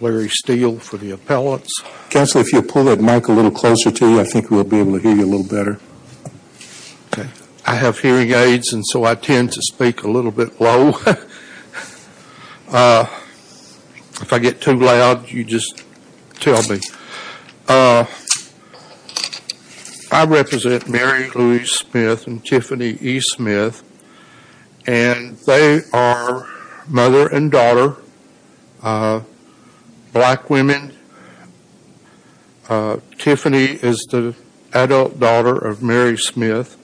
Larry Steele for the appellants. Counselor, if you'll pull that mic a little closer to you, I think we'll be able to hear you a little better. Okay. I have hearing aids, and so I tend to speak a little bit low. If I get too loud, you just tell me. I represent Mary Louise Smith and Tiffany E. Smith, and they are mother and daughter, black women. Tiffany is the adult daughter of Mary Smith.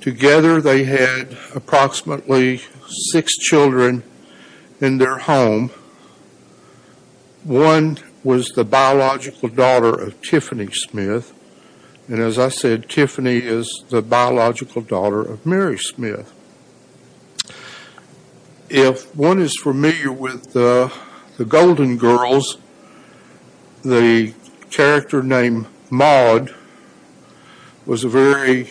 Together they had approximately six children in their home. One was the biological daughter of Tiffany Smith, and as I said, Tiffany is the biological daughter of Mary Smith. If one is familiar with the Golden Girls, the character named Maude was a very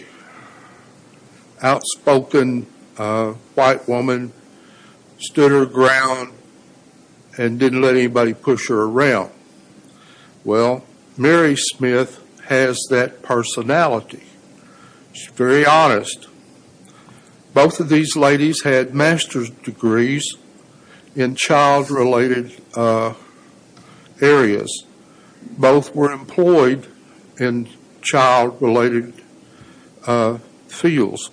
outspoken white woman, stood her ground, and didn't let anybody push her around. Well, Mary Smith has that personality. She's very honest. Both of these ladies had master's degrees in child-related areas. Both were employed in child-related fields.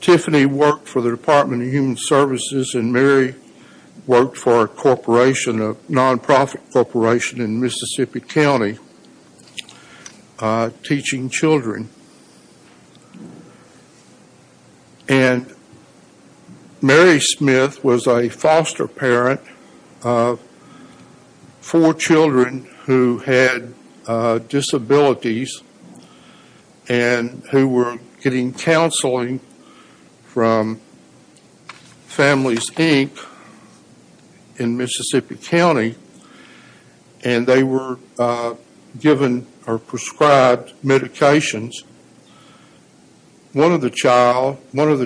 Tiffany worked for the Department of Human Services, and Mary worked for a corporation, a non-profit corporation in Mississippi County, teaching children. Mary Smith was a foster parent of four children who had disabilities, and who were getting counseling from Families, Inc. in Mississippi County, and they were given or prescribed medications. One of the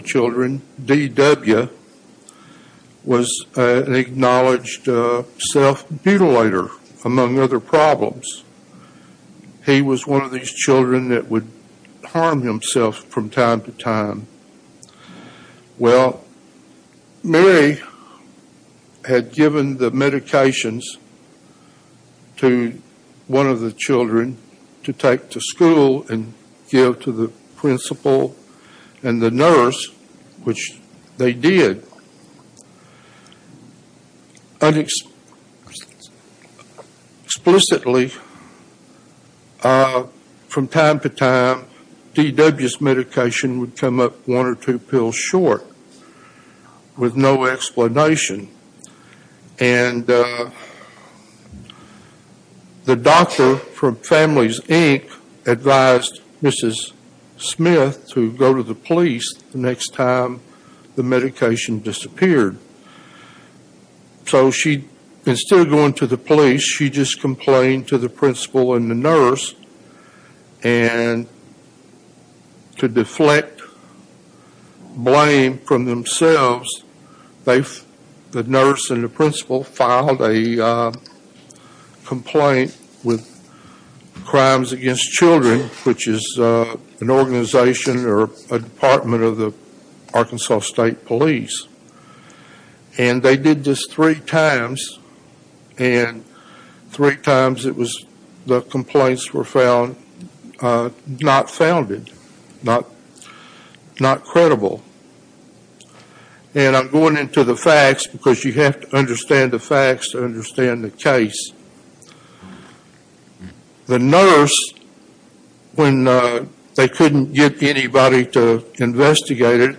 children, D.W., was an acknowledged self-mutilator, among other problems. He was one of these children that would harm himself from time to time. Well, Mary had given the medications to one of the children to take to school and give to the principal and the nurse, which they did. Explicitly, from time to time, D.W.'s medication would come up one or two pills short, with no explanation. And the doctor from Families, Inc. advised Mrs. Smith to go to the police the next time the medication disappeared. So she, instead of going to the police, she just complained to the principal and the nurse, and to deflect blame from themselves, the nurse and the principal filed a complaint with Crimes Against Children, which is an organization or a department of the Arkansas State Police. And they did this three times, and three times the complaints were found not founded, not credible. And I'm going into the facts, because you have to understand the facts to understand the case. The nurse, when they couldn't get anybody to investigate it,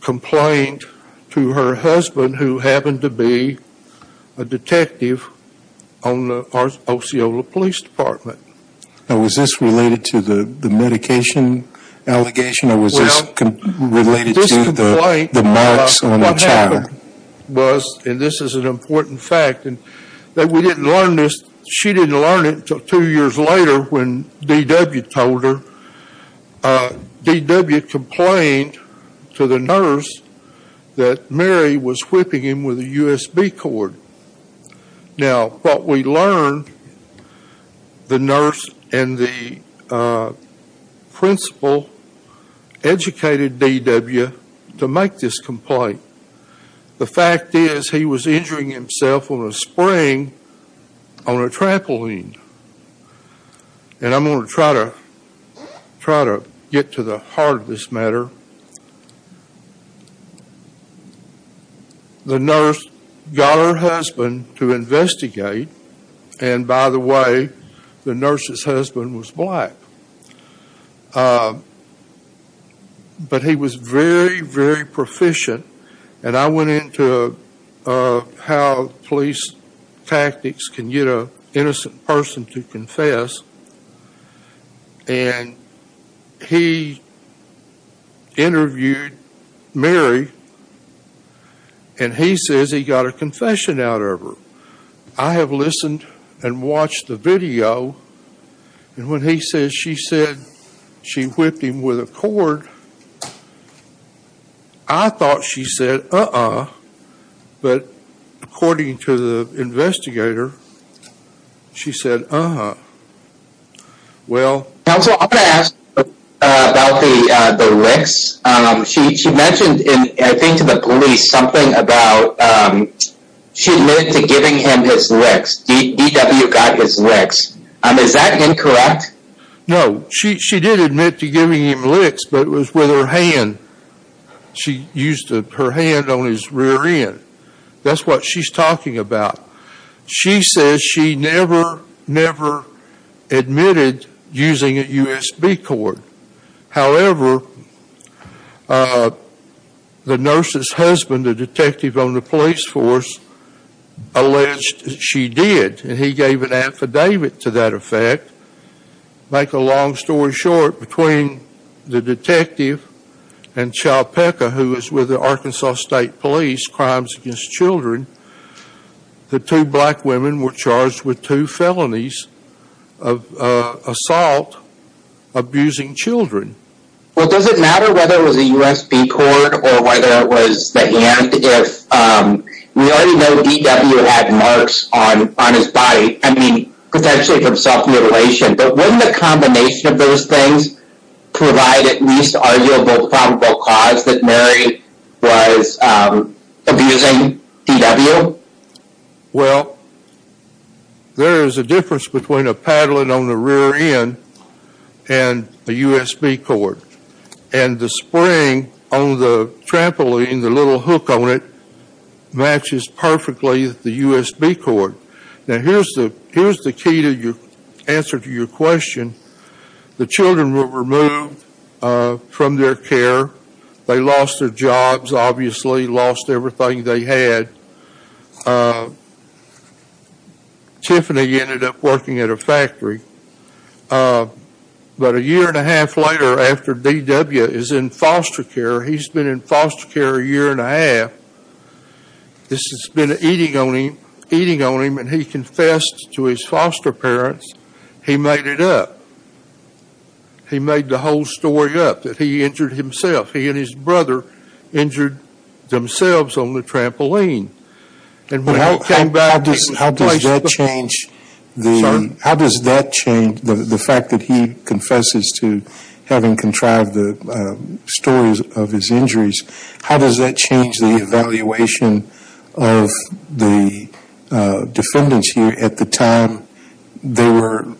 complained to her husband, who happened to be a detective on the Osceola Police Department. Now, was this related to the medication allegation, or was this related to the marks on the child? And this is an important fact, that we didn't learn this. She didn't learn it until two years later, when D.W. told her. D.W. complained to the nurse that Mary was whipping him with a USB cord. Now, what we learned, the nurse and the principal educated D.W. to make this complaint. The fact is, he was injuring himself on a spring on a trampoline. And I'm going to try to get to the heart of this matter. The nurse got her husband to investigate, and by the way, the nurse's husband was black. But he was very, very proficient, and I went into how police tactics can get an innocent person to confess. And he interviewed Mary, and he says he got a confession out of her. I have listened and watched the video, and when he says she said she whipped him with a cord, I thought she said, uh-uh. But according to the investigator, she said, uh-huh. Well... Counsel, I'm going to ask about the licks. She mentioned, I think to the police, something about she admitted to giving him his licks. D.W. got his licks. Is that incorrect? No, she did admit to giving him licks, but it was with her hand. She used her hand on his rear end. That's what she's talking about. She says she never, never admitted using a USB cord. However, the nurse's husband, the detective on the police force, alleged she did. And he gave an affidavit to that effect. To make a long story short, between the detective and Cha Pecka, who was with the Arkansas State Police, Crimes Against Children, the two black women were charged with two felonies of assault, abusing children. Well, does it matter whether it was a USB cord or whether it was the hand? We already know D.W. had marks on his body, I mean, potentially from self-mutilation. But wouldn't a combination of those things provide at least arguable probable cause that Mary was abusing D.W.? Well, there is a difference between a paddling on the rear end and a USB cord. And the spring on the trampoline, the little hook on it, matches perfectly the USB cord. Now, here's the key to your answer to your question. The children were removed from their care. They lost their jobs, obviously, lost everything they had. Tiffany ended up working at a factory. But a year and a half later, after D.W. is in foster care, he's been in foster care a year and a half, this has been eating on him, and he confessed to his foster parents, he made it up. He made the whole story up that he injured himself. He and his brother injured themselves on the trampoline. How does that change the fact that he confesses to having contrived the stories of his injuries? How does that change the evaluation of the defendants here at the time they were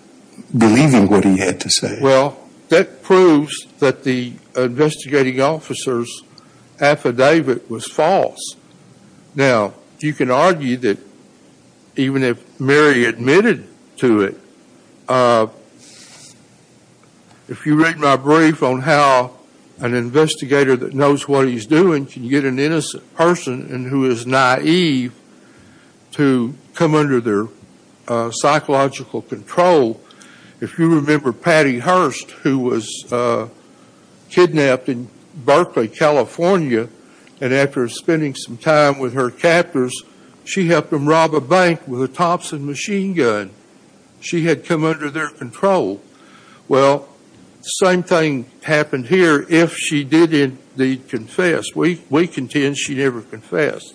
believing what he had to say? Well, that proves that the investigating officer's affidavit was false. Now, you can argue that even if Mary admitted to it, if you read my brief on how an investigator that knows what he's doing can get an innocent person and who is naive to come under their psychological control, if you remember Patty Hearst, who was kidnapped in Berkeley, California, and after spending some time with her captors, she helped them rob a bank with a Thompson machine gun. She had come under their control. Well, the same thing happened here if she did indeed confess. We contend she never confessed.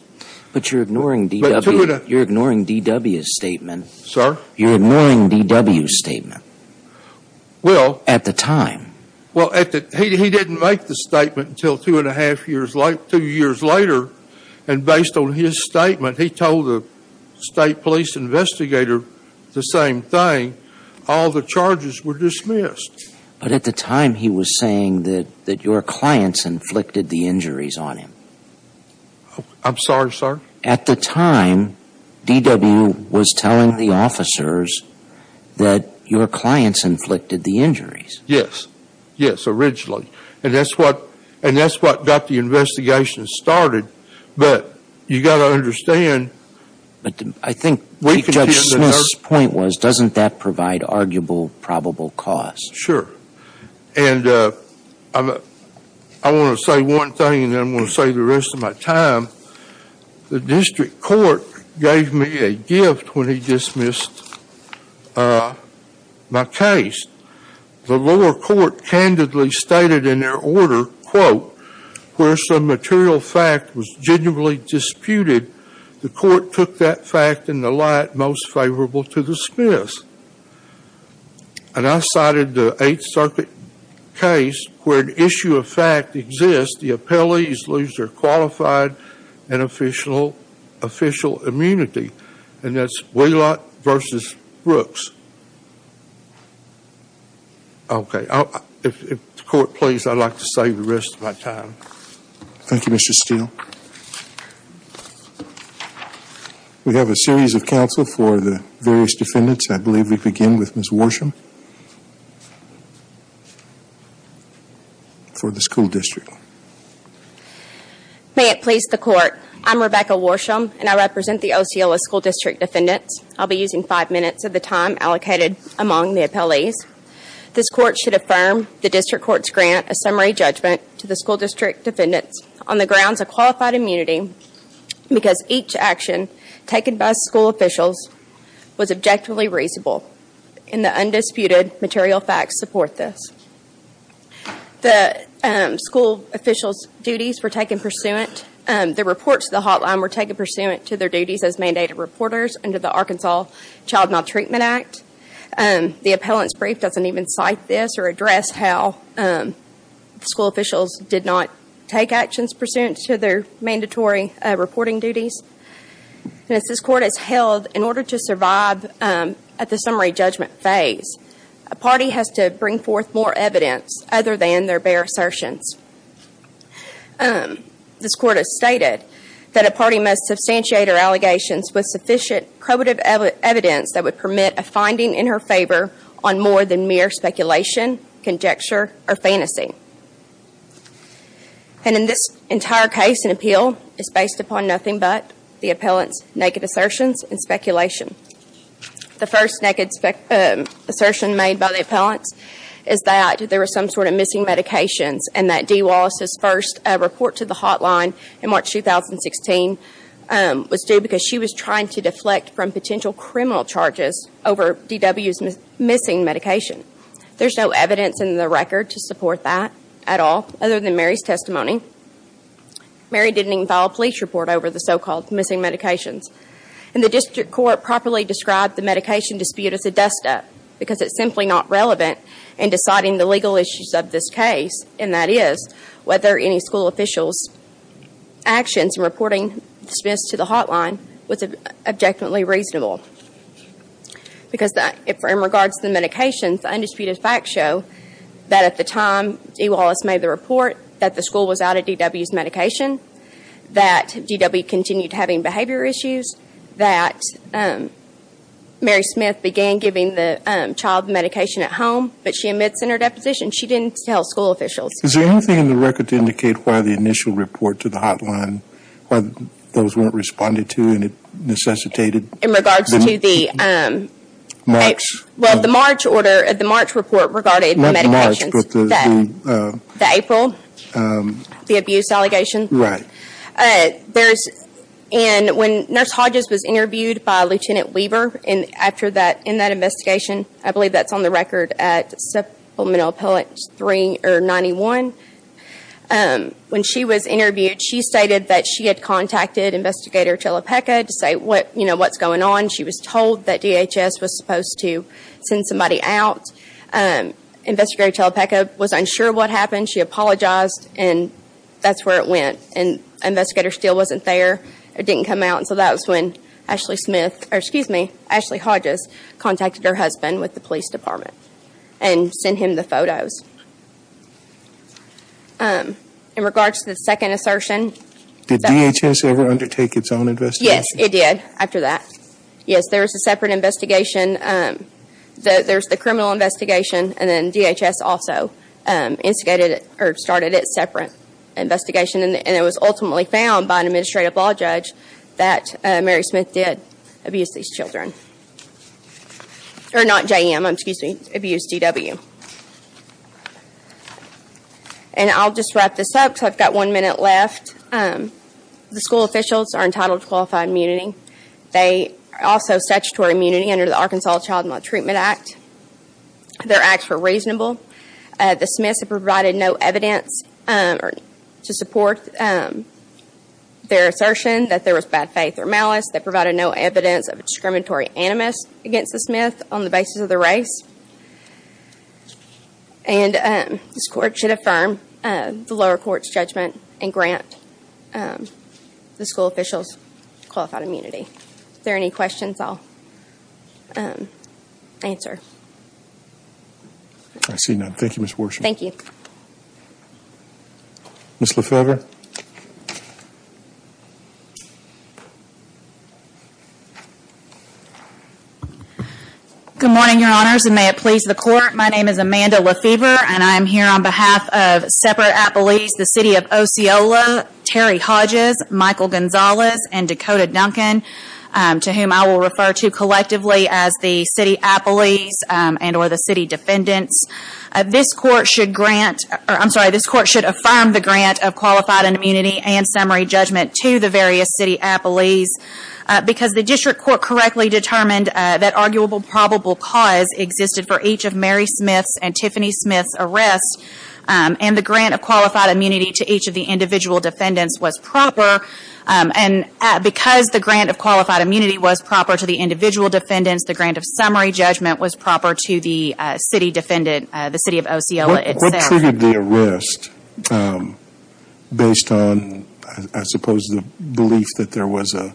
But you're ignoring D.W.'s statement. Sir? You're ignoring D.W.'s statement at the time. Well, he didn't make the statement until two years later, and based on his statement, he told the state police investigator the same thing. All the charges were dismissed. But at the time, he was saying that your clients inflicted the injuries on him. I'm sorry, sir? At the time, D.W. was telling the officers that your clients inflicted the injuries. Yes. Yes, originally. And that's what got the investigation started. But you've got to understand. But I think Chief Judge Smith's point was doesn't that provide arguable probable cause? Sure. And I want to say one thing, and then I'm going to say the rest of my time. The district court gave me a gift when he dismissed my case. The lower court candidly stated in their order, quote, where some material fact was genuinely disputed, the court took that fact in the light most favorable to dismiss. And I cited the Eighth Circuit case where an issue of fact exists, the appellees lose their qualified and official immunity. And that's Wheelock v. Brooks. Okay. If the court please, I'd like to save the rest of my time. Thank you, Mr. Steele. We have a series of counsel for the various defendants. I believe we begin with Ms. Worsham for the school district. May it please the court. I'm Rebecca Worsham, and I represent the Osceola School District defendants. I'll be using five minutes of the time allocated among the appellees. This court should affirm the district court's grant, a summary judgment, to the school district defendants on the grounds of qualified immunity because each action taken by school officials was objectively reasonable, and the undisputed material facts support this. The school officials' duties were taken pursuant. The reports to the hotline were taken pursuant to their duties as mandated reporters under the Arkansas Child Maltreatment Act. The appellant's brief doesn't even cite this or address how school officials did not take actions pursuant to their mandatory reporting duties. As this court has held, in order to survive at the summary judgment phase, a party has to bring forth more evidence other than their bare assertions. This court has stated that a party must substantiate her allegations with sufficient probative evidence that would permit a finding in her favor on more than mere speculation, conjecture, or fantasy. And in this entire case, an appeal is based upon nothing but the appellant's naked assertions and speculation. The first naked assertion made by the appellant is that there were some sort of missing medications and that Dee Wallace's first report to the hotline in March 2016 was due because she was trying to deflect from potential criminal charges over D.W.'s missing medication. There's no evidence in the record to support that at all, other than Mary's testimony. Mary didn't even file a police report over the so-called missing medications. And the district court properly described the medication dispute as a dust-up because it's simply not relevant in deciding the legal issues of this case, and that is whether any school official's actions in reporting Smith's to the hotline was objectively reasonable. Because in regards to the medications, undisputed facts show that at the time Dee Wallace made the report, that the school was out of D.W.'s medication, that D.W. continued having behavior issues, that Mary Smith began giving the child medication at home, but she admits in her deposition she didn't tell school officials. Is there anything in the record to indicate why the initial report to the hotline, why those weren't responded to and it necessitated? In regards to the... March. Well, the March order, the March report regarding the medications. Not March, but the... The April, the abuse allegation. Right. There's... And when Nurse Hodges was interviewed by Lieutenant Weber in that investigation, I believe that's on the record at supplemental appellate 3 or 91, when she was interviewed she stated that she had contacted Investigator Chalopeca to say what's going on. She was told that DHS was supposed to send somebody out. Investigator Chalopeca was unsure what happened. She apologized, and that's where it went. And Investigator Steele wasn't there or didn't come out, and so that was when Ashley Smith, or excuse me, Ashley Hodges, contacted her husband with the police department and sent him the photos. In regards to the second assertion... Did DHS ever undertake its own investigation? Yes, it did, after that. Yes, there was a separate investigation. There's the criminal investigation, and then DHS also instigated or started its separate investigation, and it was ultimately found by an administrative law judge that Mary Smith did abuse these children. Or not JM, excuse me, abuse DW. And I'll just wrap this up because I've got one minute left. The school officials are entitled to qualified immunity. They are also statutory immunity under the Arkansas Child Maltreatment Act. Their acts were reasonable. The Smiths provided no evidence to support their assertion that there was bad faith or malice. They provided no evidence of discriminatory animus against the Smiths on the basis of their race. And this court should affirm the lower court's judgment and grant the school officials qualified immunity. If there are any questions, I'll answer. I see none. Thank you, Ms. Worsham. Thank you. Ms. Lefevre. Good morning, Your Honors, and may it please the Court. My name is Amanda Lefevre, and I am here on behalf of Separate Appellees, the City of Osceola, Terry Hodges, Michael Gonzalez, and Dakota Duncan, to whom I will refer to collectively as the City Appellees and or the City Defendants. This court should affirm the grant of qualified immunity and summary judgment to the various City Appellees because the district court correctly determined that arguable probable cause existed for each of Mary Smith's and Tiffany Smith's arrests, and the grant of qualified immunity to each of the individual defendants was proper. And because the grant of qualified immunity was proper to the individual defendants, the grant of summary judgment was proper to the City Defendant, the City of Osceola itself. What triggered the arrest based on, I suppose, the belief that there was a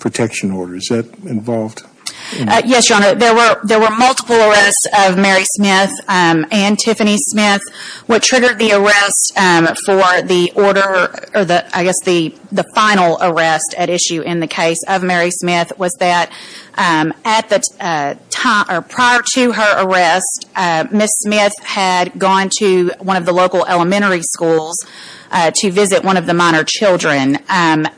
protection order? Is that involved? Yes, Your Honor, there were multiple arrests of Mary Smith and Tiffany Smith. What triggered the arrest for the order, or I guess the final arrest at issue in the case of Mary Smith was that prior to her arrest, Ms. Smith had gone to one of the local elementary schools to visit one of the minor children. And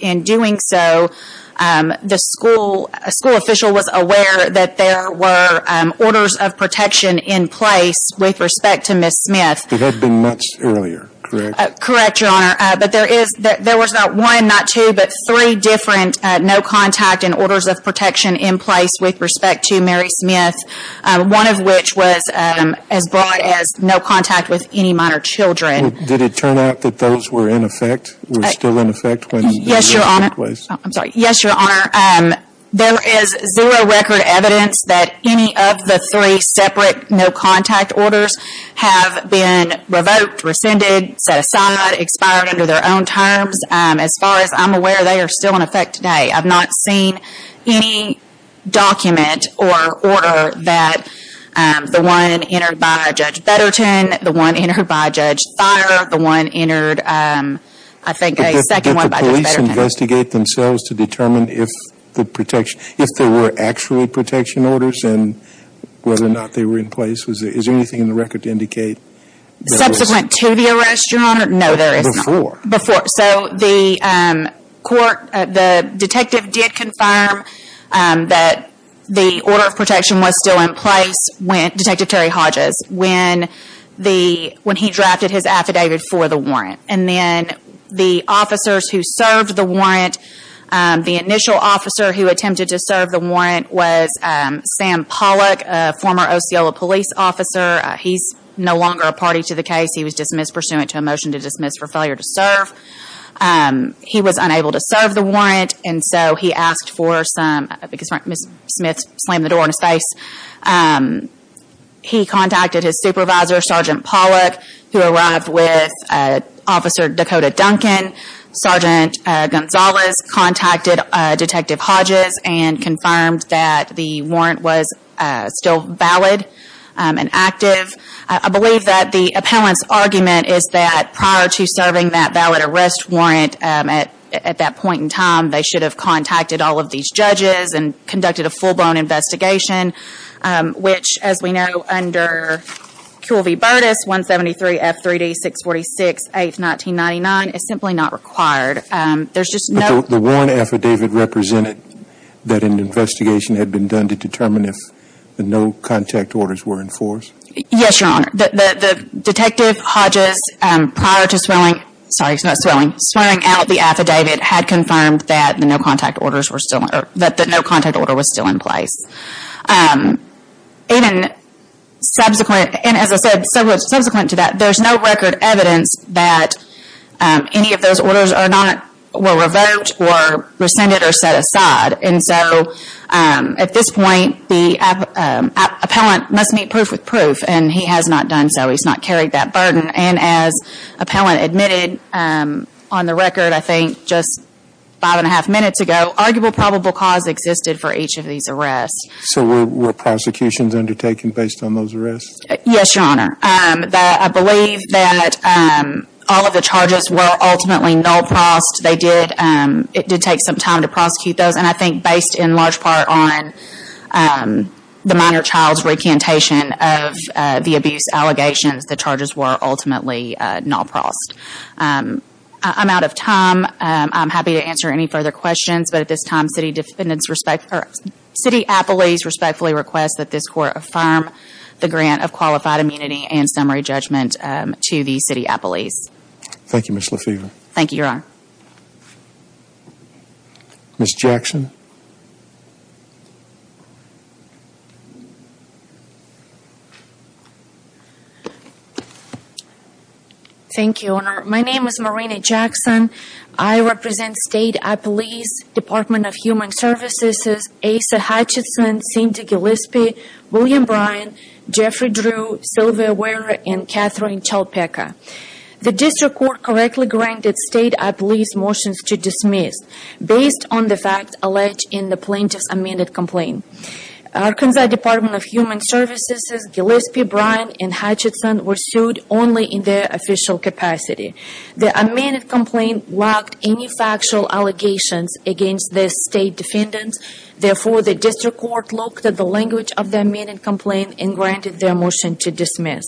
in doing so, the school official was aware that there were orders of protection in place with respect to Ms. Smith. It had been months earlier, correct? Correct, Your Honor, but there was not one, not two, but three different no contact and orders of protection in place with respect to Mary Smith, one of which was as broad as no contact with any minor children. Did it turn out that those were in effect, were still in effect? Yes, Your Honor, there is zero record evidence that any of the three separate no contact orders have been revoked, rescinded, set aside, expired under their own terms. As far as I'm aware, they are still in effect today. I've not seen any document or order that the one entered by Judge Betterton, the one entered by Judge Thayer, the one entered, I think a second one by Judge Betterton. Did the police investigate themselves to determine if there were actually protection orders and whether or not they were in place? Is there anything in the record to indicate? Subsequent to the arrest, Your Honor, no there is not. Before? Before, so the detective did confirm that the order of protection was still in place, Detective Terry Hodges, when he drafted his affidavit for the warrant. And then the officers who served the warrant, the initial officer who attempted to serve the warrant was Sam Pollock, a former Osceola police officer. He's no longer a party to the case. He was dismissed pursuant to a motion to dismiss for failure to serve. He was unable to serve the warrant and so he asked for some, because Ms. Smith slammed the door in his face, he contacted his supervisor, Sergeant Pollock, who arrived with Officer Dakota Duncan. Sergeant Gonzalez contacted Detective Hodges and confirmed that the warrant was still valid and active. I believe that the appellant's argument is that prior to serving that valid arrest warrant at that point in time, they should have contacted all of these judges and conducted a full-blown investigation, which as we know under QLV Burtis, 173 F3D 646, 8th, 1999, is simply not required. There's just no... But the warrant affidavit represented that an investigation had been done to determine if no contact orders were enforced? Yes, Your Honor. The Detective Hodges, prior to swearing out the affidavit, had confirmed that the no contact order was still in place. And as I said, subsequent to that, there's no record evidence that any of those orders were revoked or rescinded or set aside. And so, at this point, the appellant must meet proof with proof. And he has not done so. He's not carried that burden. And as appellant admitted on the record, I think just five and a half minutes ago, arguable probable cause existed for each of these arrests. So were prosecutions undertaken based on those arrests? Yes, Your Honor. I believe that all of the charges were ultimately null-prossed. It did take some time to prosecute those. And I think based in large part on the minor child's recantation of the abuse allegations, the charges were ultimately null-prossed. I'm out of time. I'm happy to answer any further questions. But at this time, City Appellees respectfully request that this Court affirm the grant of qualified immunity and summary judgment to the City Appellees. Thank you, Ms. LaFever. Thank you, Your Honor. Ms. Jackson. Thank you, Your Honor. My name is Marina Jackson. I represent State Appellees, Department of Human Services, Asa Hutchinson, Cindy Gillespie, William Bryan, Jeffrey Drew, Sylvia Wehrer, and Catherine Chalpeca. The District Court correctly granted State Appellees' motions to dismiss based on the facts alleged in the plaintiff's amended complaint. Arkansas Department of Human Services' Gillespie, Bryan, and Hutchinson were sued only in their official capacity. The amended complaint lacked any factual allegations against the state defendants. Therefore, the District Court looked at the language of the amended complaint and granted their motion to dismiss.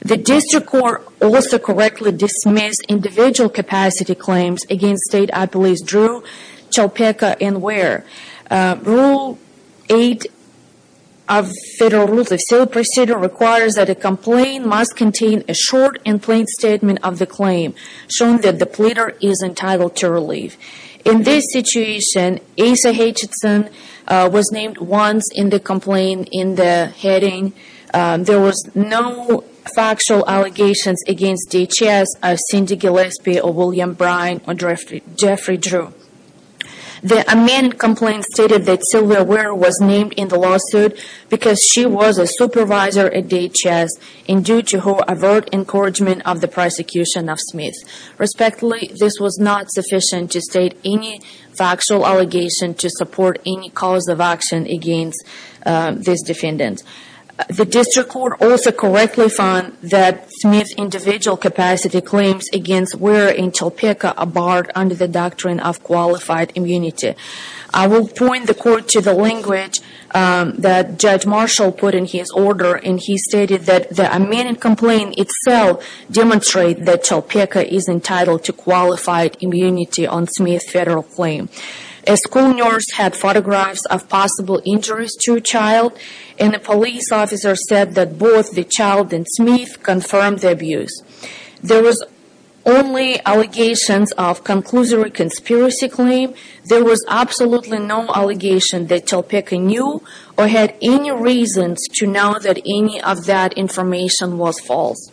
The District Court also correctly dismissed individual capacity claims against State Appellees' Drew, Chalpeca, and Wehrer. Rule 8 of Federal Rules of Sale Procedure requires that a complaint must contain a short and plain statement of the claim, showing that the pleader is entitled to relief. In this situation, Asa Hutchinson was named once in the complaint in the heading there was no factual allegations against DHS of Cindy Gillespie or William Bryan or Jeffrey Drew. The amended complaint stated that Sylvia Wehrer was named in the lawsuit because she was a supervisor at DHS and due to her overt encouragement of the prosecution of Smith. Respectfully, this was not sufficient to state any factual allegation to support any cause of action against this defendant. The District Court also correctly found that Smith's individual capacity claims against Wehrer and Chalpeca are barred under the doctrine of qualified immunity. I will point the Court to the language that Judge Marshall put in his order, and he stated that the amended complaint itself demonstrated that Chalpeca is entitled to qualified immunity on Smith's federal claim. A school nurse had photographs of possible injuries to a child, and a police officer said that both the child and Smith confirmed the abuse. There were only allegations of a conclusive conspiracy claim. There was absolutely no allegation that Chalpeca knew or had any reason to know that any of that information was false.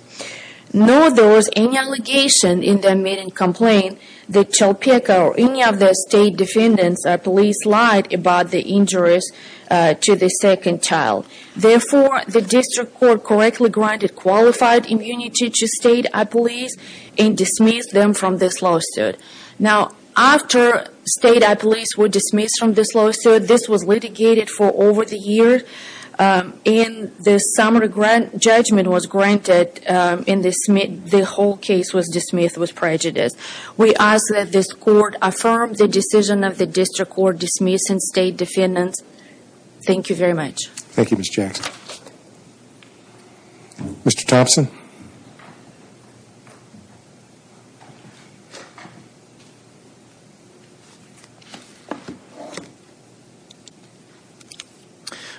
Nor was there any allegation in the amended complaint that Chalpeca or any of the state defendants or police lied about the injuries to the second child. Therefore, the District Court correctly granted qualified immunity to state police and dismissed them from this lawsuit. Now, after state police were dismissed from this lawsuit, this was litigated for over a year, and the summary judgment was granted, and the whole case was dismissed with prejudice. We ask that this Court affirm the decision of the District Court dismissing state defendants. Thank you very much. Thank you, Ms. Jackson. Mr. Thompson? Mr. Thompson?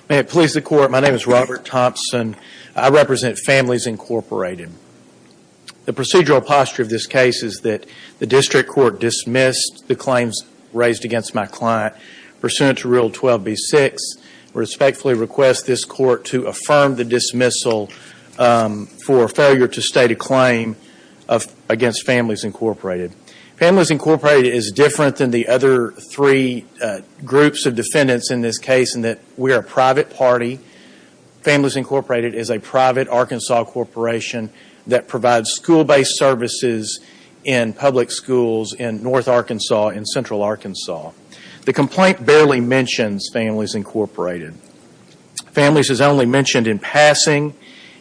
May it please the Court, my name is Robert Thompson. I represent Families Incorporated. The procedural posture of this case is that the District Court dismissed the claims raised against my client. Pursuant to Rule 12b-6, I respectfully request this Court to affirm the dismissal for failure to state a claim against Families Incorporated. Families Incorporated is different than the other three groups of defendants in this case in that we are a private party. Families Incorporated is a private Arkansas corporation that provides school-based services in public schools in North Arkansas and Central Arkansas. The complaint barely mentions Families Incorporated. Families is only mentioned in passing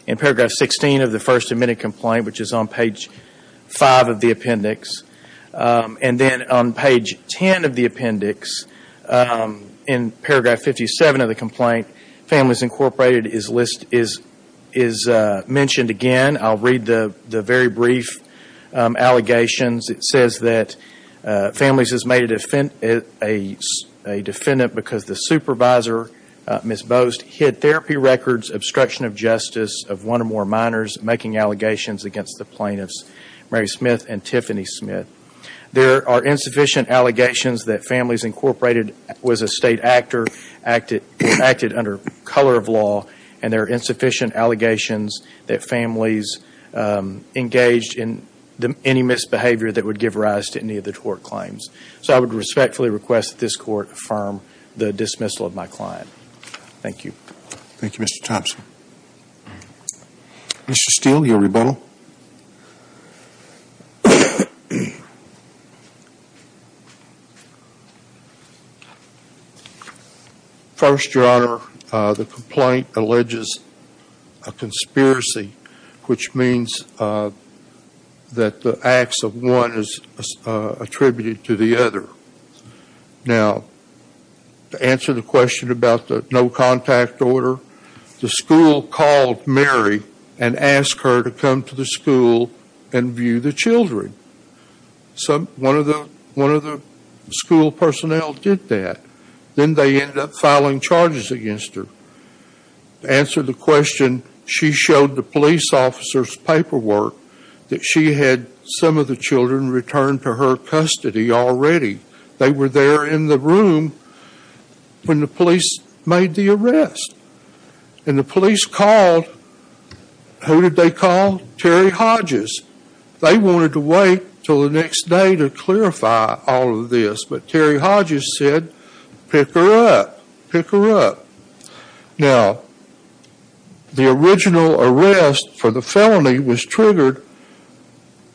in paragraph 16 of the first admitted complaint, which is on page 5 of the appendix. And then on page 10 of the appendix, in paragraph 57 of the complaint, Families Incorporated is mentioned again. I'll read the very brief allegations. It says that Families has made a defendant because the supervisor, Ms. Bost, hid therapy records, obstruction of justice of one or more minors, making allegations against the plaintiffs, Mary Smith and Tiffany Smith. There are insufficient allegations that Families Incorporated was a state actor, acted under color of law, and there are insufficient allegations that Families engaged in any misbehavior that would give rise to any of the tort claims. So I would respectfully request that this Court affirm the dismissal of my client. Thank you. Thank you, Mr. Thompson. Mr. Steele, your rebuttal. Thank you. First, Your Honor, the complaint alleges a conspiracy, which means that the acts of one is attributed to the other. Now, to answer the question about the no contact order, the school called Mary and asked her to come to the school and view the children. One of the school personnel did that. Then they ended up filing charges against her. To answer the question, she showed the police officer's paperwork that she had some of the children returned to her custody already. They were there in the room when the police made the arrest. And the police called, who did they call? Terry Hodges. They wanted to wait until the next day to clarify all of this. But Terry Hodges said, pick her up, pick her up. Now, the original arrest for the felony was triggered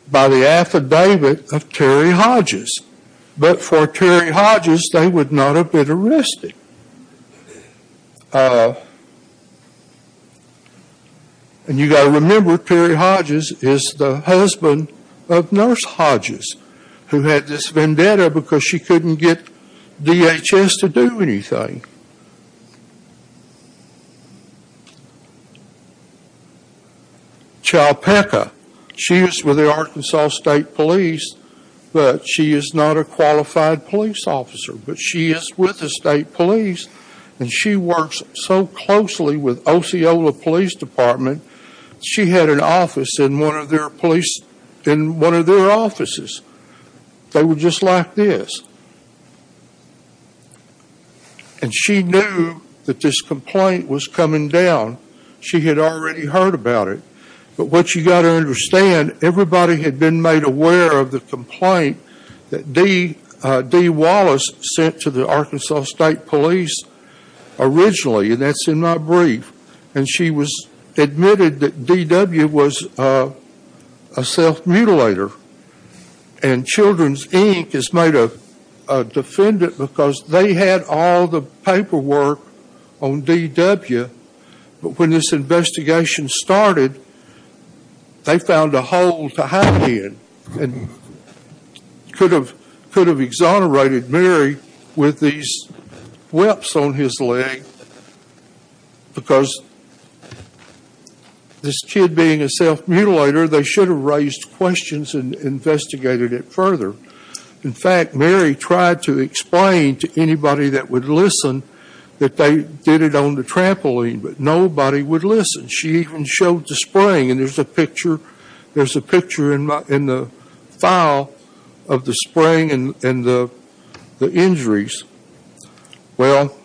by the affidavit of Terry Hodges. But for Terry Hodges, they would not have been arrested. And you've got to remember, Terry Hodges is the husband of Nurse Hodges, who had this vendetta because she couldn't get DHS to do anything. Chalpeca, she is with the Arkansas State Police, but she is not a qualified police officer. But she is with the state police, and she works so closely with Osceola Police Department. She had an office in one of their police, in one of their offices. They were just like this. And she knew that this complaint was coming down. She had already heard about it. But what you've got to understand, everybody had been made aware of the complaint that Dee Wallace sent to the Arkansas State Police originally. And that's in my brief. And she was admitted that D.W. was a self-mutilator. And Children's Inc. is made a defendant because they had all the paperwork on D.W. But when this investigation started, they found a hole to hide in. And could have exonerated Mary with these whips on his leg. Because this kid being a self-mutilator, they should have raised questions and investigated it further. In fact, Mary tried to explain to anybody that would listen that they did it on the trampoline. But nobody would listen. She even showed the spring. And there's a picture in the file of the spring and the injuries. Well,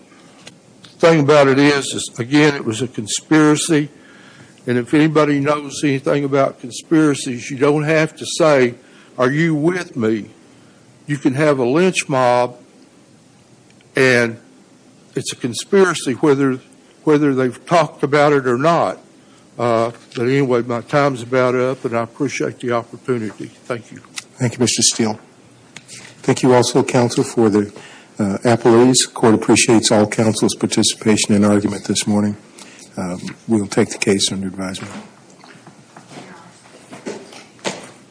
the thing about it is, again, it was a conspiracy. And if anybody knows anything about conspiracies, you don't have to say, are you with me? You can have a lynch mob and it's a conspiracy whether they've talked about it or not. But anyway, my time's about up. And I appreciate the opportunity. Thank you. Thank you, Mr. Steele. Thank you also, counsel, for the appellees. Court appreciates all counsel's participation and argument this morning. We will take the case under advisement.